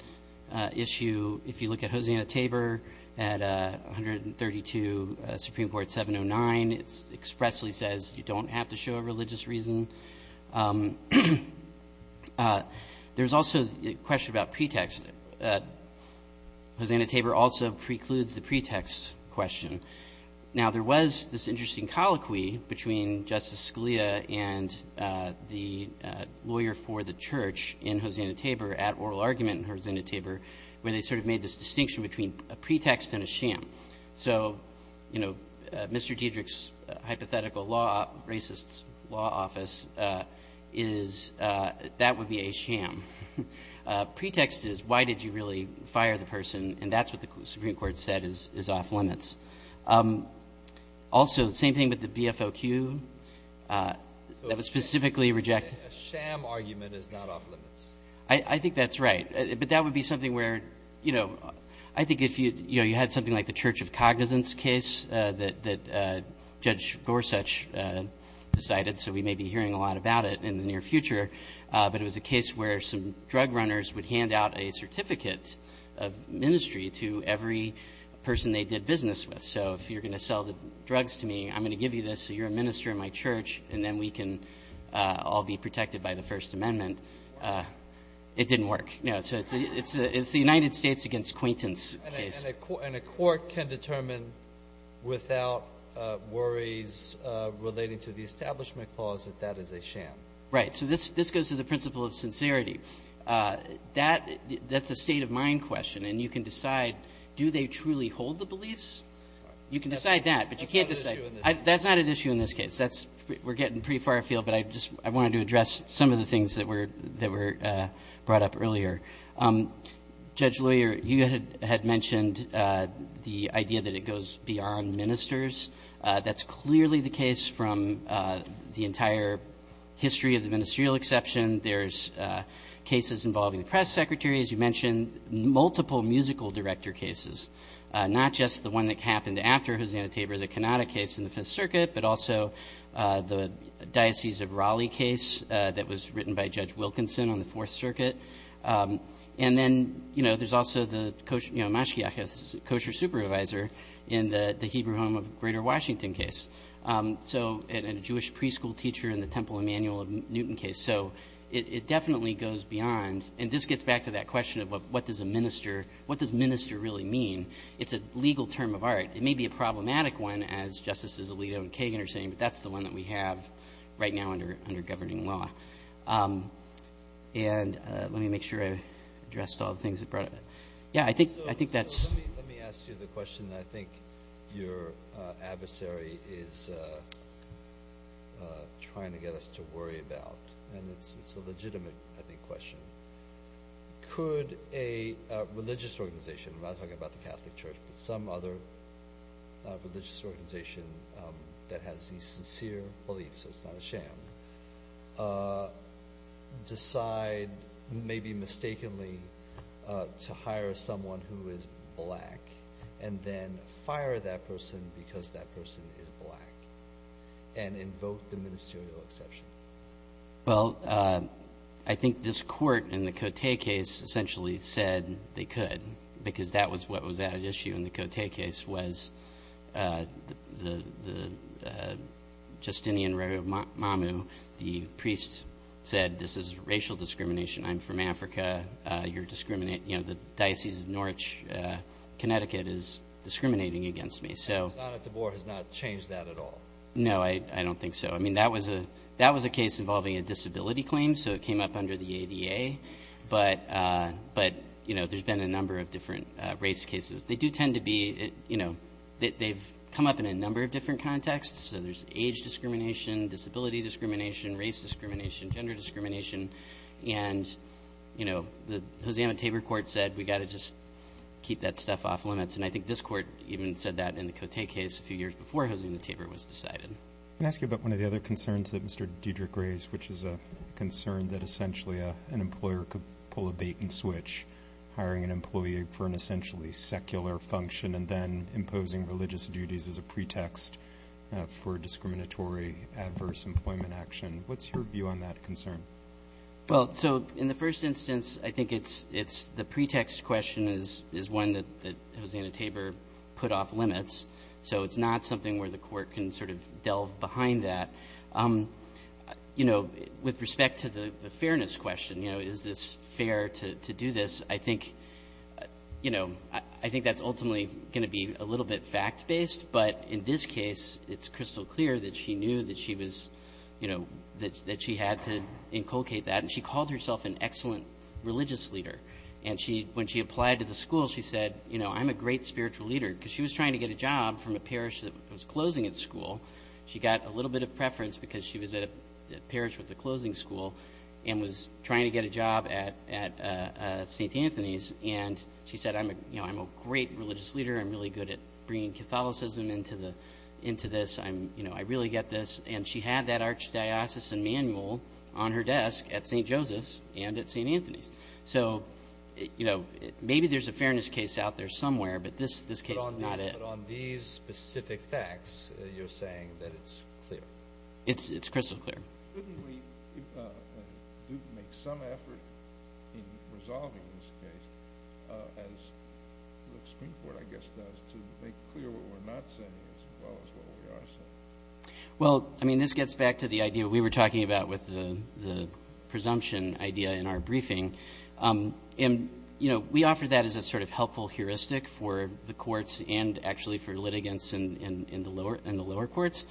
issue. If you look at Hosanna Tabor at 132 Supreme Court 709, it expressly says you don't have to show a religious reason. There's also a question about pretext. Hosanna Tabor also precludes the pretext question. Now, there was this interesting colloquy between Justice Scalia and the lawyer for the church in Hosanna Tabor at oral argument in Hosanna Tabor where they sort of made this distinction between a pretext and a sham. So, you know, Mr. Diedrich's hypothetical law, racist's law office, is that would be a sham. Pretext is why did you really fire the person, and that's what the Supreme Court said is off limits. Also, same thing with the BFOQ. That would specifically reject. A sham argument is not off limits. I think that's right. But that would be something where, you know, I think if you had something like the Church of Cognizance case that Judge Gorsuch decided, so we may be hearing a lot about it in the near future, but it was a case where some drug runners would hand out a certificate of ministry to every person they did business with. So if you're going to sell the drugs to me, I'm going to give you this so you're a minister in my church, and then we can all be protected by the First Amendment. It didn't work. So it's the United States against Quainton's case. And a court can determine without worries relating to the establishment clause that that is a sham. Right. So this goes to the principle of sincerity. That's a state-of-mind question, and you can decide, do they truly hold the beliefs? You can decide that, but you can't decide. That's not an issue in this case. That's not an issue in this case. We're getting pretty far afield, but I just wanted to address some of the things that were brought up earlier. Judge Loyer, you had mentioned the idea that it goes beyond ministers. That's clearly the case from the entire history of the ministerial exception. There's cases involving the press secretary, as you mentioned, multiple musical director cases, not just the one that happened after Hosanna Tabor, the Cannata case in the Fifth Circuit, but also the Diocese of Raleigh case that was written by Judge Wilkinson on the Fourth Circuit. And then, you know, there's also the Kosher supervisor in the Hebrew home of Greater Washington case, and a Jewish preschool teacher in the Temple Emanuel of Newton case. So it definitely goes beyond. And this gets back to that question of what does minister really mean? It's a legal term of art. It may be a problematic one, as Justices Alito and Kagan are saying, but that's the one that we have right now under governing law. And let me make sure I addressed all the things that brought up. Yeah, I think that's. Let me ask you the question that I think your adversary is trying to get us to worry about, and it's a legitimate, I think, question. Could a religious organization, I'm not talking about the Catholic Church, but some other religious organization that has the sincere belief, so it's not a sham, decide maybe mistakenly to hire someone who is black and then fire that person because that person is black and invoke the ministerial exception? Well, I think this court in the Coté case essentially said they could because that was what was at issue in the Coté case was the Justinian Mamu, the priest said this is racial discrimination. I'm from Africa. You're discriminating. You know, the Diocese of Norwich, Connecticut, is discriminating against me. So. And Osana Tabor has not changed that at all? No, I don't think so. I mean, that was a case involving a disability claim, so it came up under the ADA. But, you know, there's been a number of different race cases. They do tend to be, you know, they've come up in a number of different contexts. So there's age discrimination, disability discrimination, race discrimination, gender discrimination, and, you know, the Osana Tabor court said we've got to just keep that stuff off limits. And I think this court even said that in the Coté case a few years before Osana Tabor was decided. Can I ask you about one of the other concerns that Mr. Dedrick raised, which is a concern that essentially an employer could pull a bait and switch, hiring an employee for an essentially secular function and then imposing religious duties as a pretext for discriminatory, adverse employment action. What's your view on that concern? Well, so in the first instance, I think it's the pretext question is one that Osana Tabor put off limits. So it's not something where the court can sort of delve behind that. You know, with respect to the fairness question, you know, is this fair to do this, I think, you know, I think that's ultimately going to be a little bit fact-based. But in this case, it's crystal clear that she knew that she was, you know, that she had to inculcate that. And she called herself an excellent religious leader. And when she applied to the school, she said, you know, I'm a great spiritual leader. Because she was trying to get a job from a parish that was closing its school. She got a little bit of preference because she was at a parish with a closing school and was trying to get a job at St. Anthony's. And she said, you know, I'm a great religious leader. I'm really good at bringing Catholicism into this. You know, I really get this. And she had that Archdiocesan manual on her desk at St. Joseph's and at St. Anthony's. So, you know, maybe there's a fairness case out there somewhere. But this case is not it. But on these specific facts, you're saying that it's clear. It's crystal clear. Couldn't we make some effort in resolving this case, as the Supreme Court, I guess, does, to make clear what we're not saying as well as what we are saying? Well, I mean, this gets back to the idea we were talking about with the presumption idea in our briefing. And, you know, we offer that as a sort of helpful heuristic for the courts and actually for litigants in the lower courts.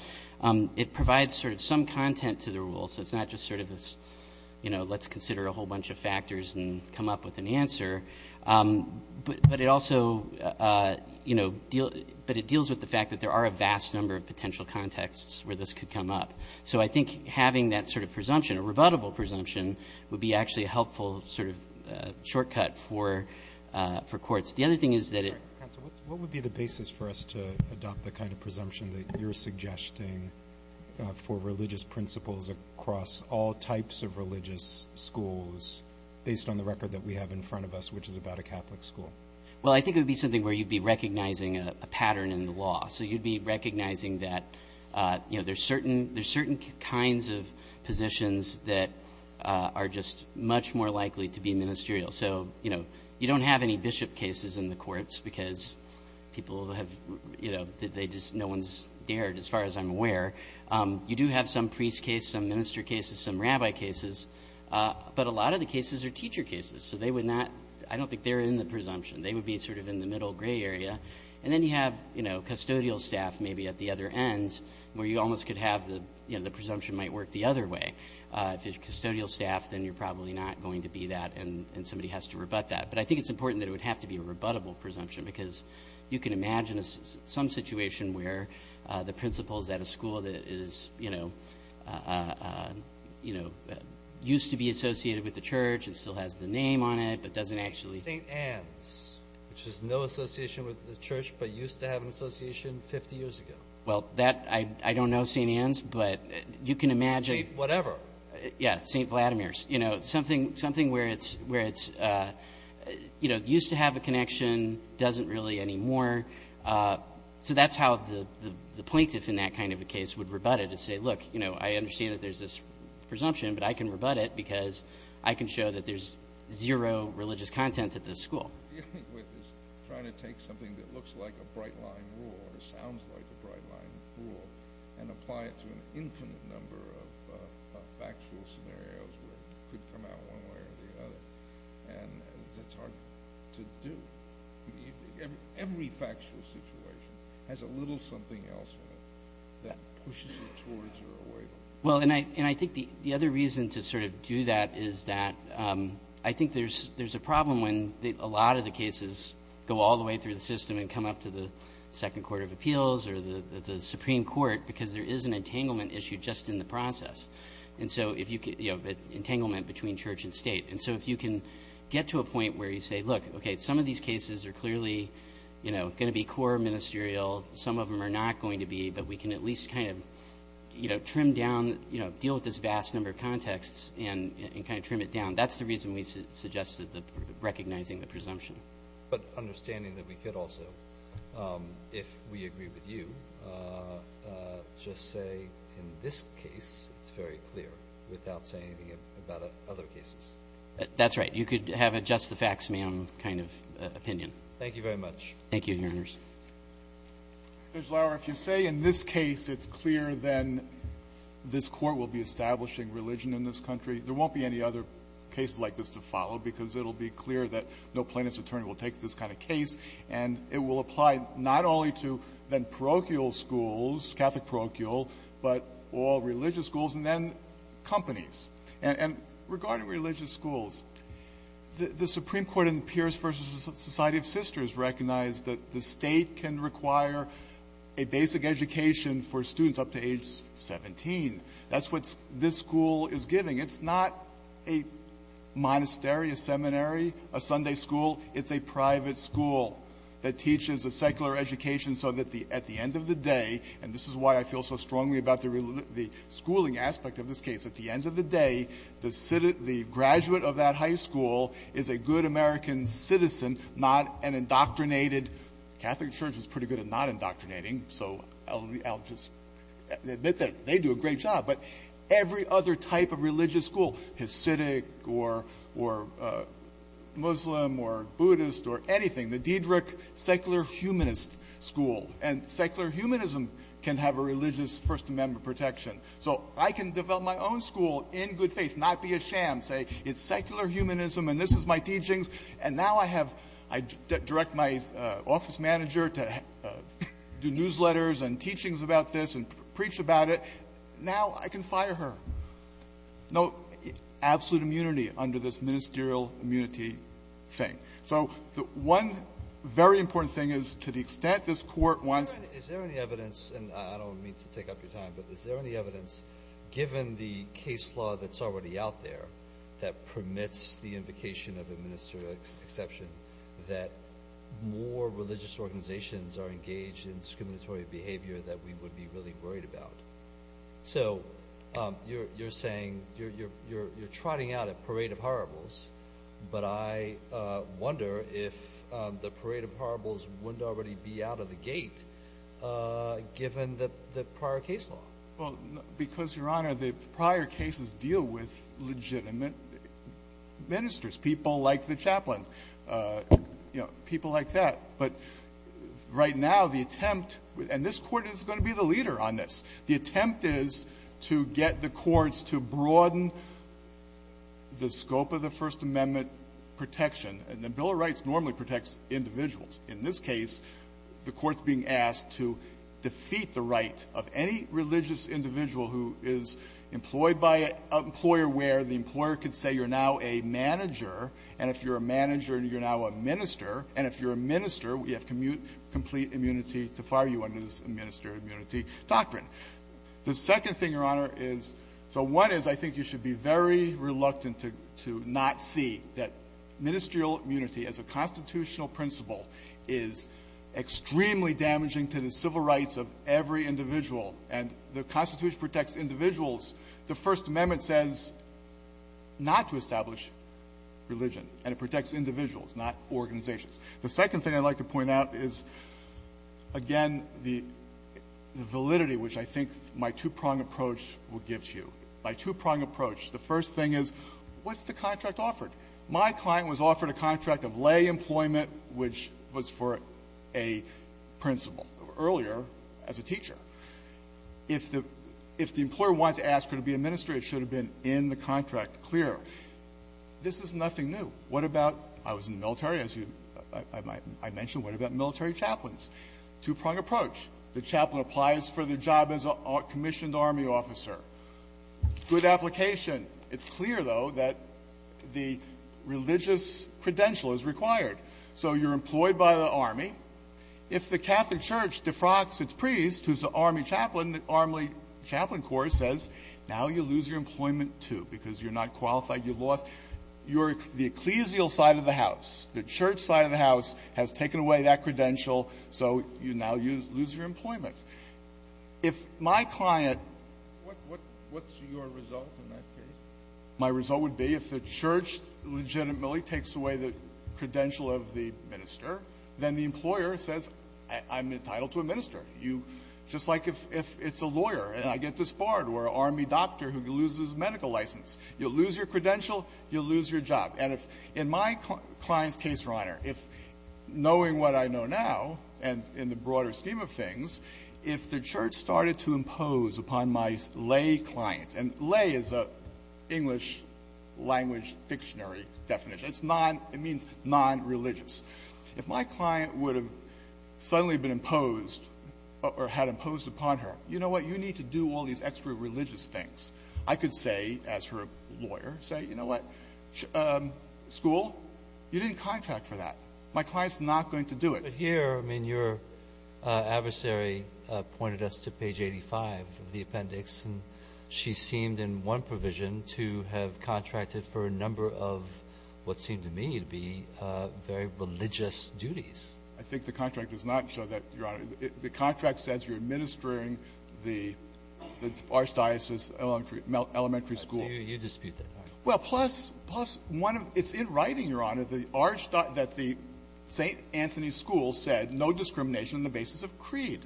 It provides sort of some content to the rule, so it's not just sort of this, you know, let's consider a whole bunch of factors and come up with an answer. But it also, you know, deals with the fact that there are a vast number of potential contexts where this could come up. So I think having that sort of presumption, a rebuttable presumption, would be actually a helpful sort of shortcut for courts. The other thing is that it – Counsel, what would be the basis for us to adopt the kind of presumption that you're suggesting for religious principles across all types of religious schools, based on the record that we have in front of us, which is about a Catholic school? Well, I think it would be something where you'd be recognizing a pattern in the law. So you'd be recognizing that, you know, there's certain – there's certain kinds of positions that are just much more likely to be ministerial. So, you know, you don't have any bishop cases in the courts because people have – you know, they just – no one's dared, as far as I'm aware. You do have some priest cases, some minister cases, some rabbi cases. But a lot of the cases are teacher cases, so they would not – I don't think they're in the presumption. They would be sort of in the middle gray area. And then you have, you know, custodial staff maybe at the other end, where you almost could have the – you know, the presumption might work the other way. If it's custodial staff, then you're probably not going to be that, and somebody has to rebut that. But I think it's important that it would have to be a rebuttable presumption because you can imagine some situation where the principal is at a school that is, you know, used to be associated with the church and still has the name on it but doesn't actually – St. Anne's, which is no association with the church but used to have an association 50 years ago. Well, that – I don't know St. Anne's, but you can imagine – Whatever. Yeah. St. Vladimir's. You know, something where it's, you know, used to have a connection, doesn't really anymore. So that's how the plaintiff in that kind of a case would rebut it and say, look, you know, I understand that there's this presumption, but I can rebut it because I can show that there's zero religious content at this school. Dealing with is trying to take something that looks like a bright-line rule or sounds like a bright-line rule and apply it to an infinite number of factual scenarios where it could come out one way or the other. And that's hard to do. Every factual situation has a little something else in it that pushes it towards or away from it. Well, and I think the other reason to sort of do that is that I think there's a problem when a lot of the cases go all the way through the system and come up to the Second Court of Appeals or the Supreme Court because there is an entanglement issue just in the process. And so, you know, entanglement between church and state. And so if you can get to a point where you say, look, okay, some of these cases are clearly, you know, going to be core ministerial. Some of them are not going to be. But we can at least kind of, you know, trim down, you know, deal with this vast number of contexts and kind of trim it down. That's the reason we suggested recognizing the presumption. But understanding that we could also, if we agree with you, just say in this case it's very clear without saying anything about other cases. That's right. You could have a just-the-facts man kind of opinion. Thank you very much. Thank you, Your Honors. Judge Lauer, if you say in this case it's clear, then this Court will be establishing religion in this country, there won't be any other cases like this to follow because it will be clear that no plaintiff's attorney will take this kind of case. And it will apply not only to then parochial schools, Catholic parochial, but all religious schools and then companies. And regarding religious schools, the Supreme Court in Pierce v. Society of Sisters recognized that the State can require a basic education for students up to age 17. That's what this school is giving. It's not a monastery, a seminary, a Sunday school. It's a private school that teaches a secular education so that at the end of the day, and this is why I feel so strongly about the schooling aspect of this case, at the end of the day, the graduate of that high school is a good American citizen, not an indoctrinated. The Catholic Church is pretty good at not indoctrinating, so I'll just admit that they do a great job. But every other type of religious school, Hasidic or Muslim or Buddhist or anything, the Diedrich Secular Humanist School. And secular humanism can have a religious First Amendment protection. So I can develop my own school in good faith, not be a sham, say it's secular humanism and this is my teachings, and now I have to direct my office manager to do newsletters and teachings about this and preach about it. Now I can fire her. No absolute immunity under this ministerial immunity thing. So one very important thing is to the extent this Court wants to Is there any evidence, and I don't mean to take up your time, but is there any evidence given the case law that's already out there that permits the invocation of a ministerial exception that more religious organizations are engaged in discriminatory behavior that we would be really worried about? So you're saying you're trotting out a parade of horribles, but I wonder if the parade of horribles wouldn't already be out of the gate given the prior case law. Well, because, Your Honor, the prior cases deal with legitimate ministers, people like the chaplain, you know, people like that. But right now the attempt, and this Court is going to be the leader on this, the attempt is to get the courts to broaden the scope of the First Amendment protection. And the Bill of Rights normally protects individuals. In this case, the Court's being asked to defeat the right of any religious individual who is employed by an employer where the employer could say you're now a manager, and if you're a manager, you're now a minister, and if you're a minister, we have complete immunity to fire you under this minister immunity doctrine. The second thing, Your Honor, is so one is I think you should be very reluctant to not see that ministerial immunity as a constitutional principle is extremely damaging to the civil rights of every individual, and the Constitution protects individuals. The First Amendment says not to establish religion, and it protects individuals, not organizations. The second thing I'd like to point out is, again, the validity which I think my two-prong approach will give to you. My two-prong approach, the first thing is, what's the contract offered? My client was offered a contract of lay employment, which was for a principal earlier as a teacher. If the employer wants to ask her to be a minister, it should have been in the contract clearer. This is nothing new. What about, I was in the military, as I mentioned, what about military chaplains? Two-prong approach. The chaplain applies for the job as a commissioned army officer. Good application. It's clear, though, that the religious credential is required. So you're employed by the army. If the Catholic Church defrocks its priest, who's an army chaplain, the army chaplain corps says, now you lose your employment, too, because you're not qualified. You lost the ecclesial side of the house. The church side of the house has taken away that credential, so you now lose your employment. If my client — what's your result in that case? My result would be if the church legitimately takes away the credential of the minister, then the employer says, I'm entitled to a minister. You — just like if it's a lawyer and I get disbarred, or an army doctor who loses medical license. You'll lose your credential, you'll lose your job. And if — in my client's case, Your Honor, if — knowing what I know now, and in the If the church started to impose upon my lay client — and lay is an English-language fictionary definition. It's non — it means non-religious. If my client would have suddenly been imposed or had imposed upon her, you know what, you need to do all these extra-religious things. I could say, as her lawyer, say, you know what, school? You didn't contract for that. My client's not going to do it. But here, I mean, your adversary pointed us to page 85 of the appendix, and she seemed, in one provision, to have contracted for a number of what seemed to me to be very religious duties. I think the contract does not show that, Your Honor. The contract says you're administering the Archdiocese Elementary School. I see you dispute that. Well, plus — plus one of — it's in writing, Your Honor, that the Archdiocese St. Anthony School said no discrimination on the basis of creed.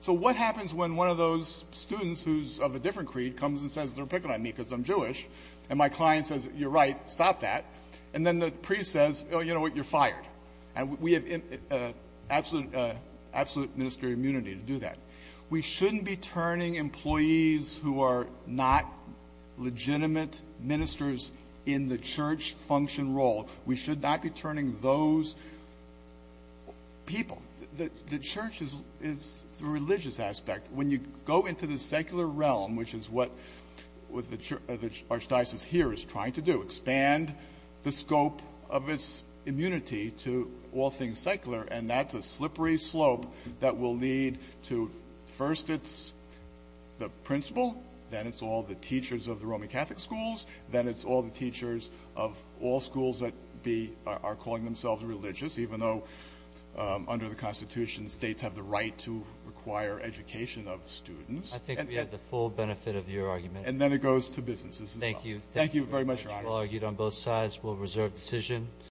So what happens when one of those students who's of a different creed comes and says they're picking on me because I'm Jewish, and my client says, you're right, stop that, and then the priest says, oh, you know what, you're fired? And we have absolute — absolute ministerial immunity to do that. We shouldn't be turning employees who are not legitimate ministers in the church function role. We should not be turning those people. The church is the religious aspect. When you go into the secular realm, which is what the archdiocese here is trying to do, expand the scope of its immunity to all things secular, and that's a slippery slope that will lead to — first it's the principal, then it's all the teachers of the Roman be — are calling themselves religious, even though under the Constitution states have the right to require education of students. I think we have the full benefit of your argument. And then it goes to businesses as well. Thank you. Thank you very much, Your Honor. Thank you very much. We'll argue it on both sides.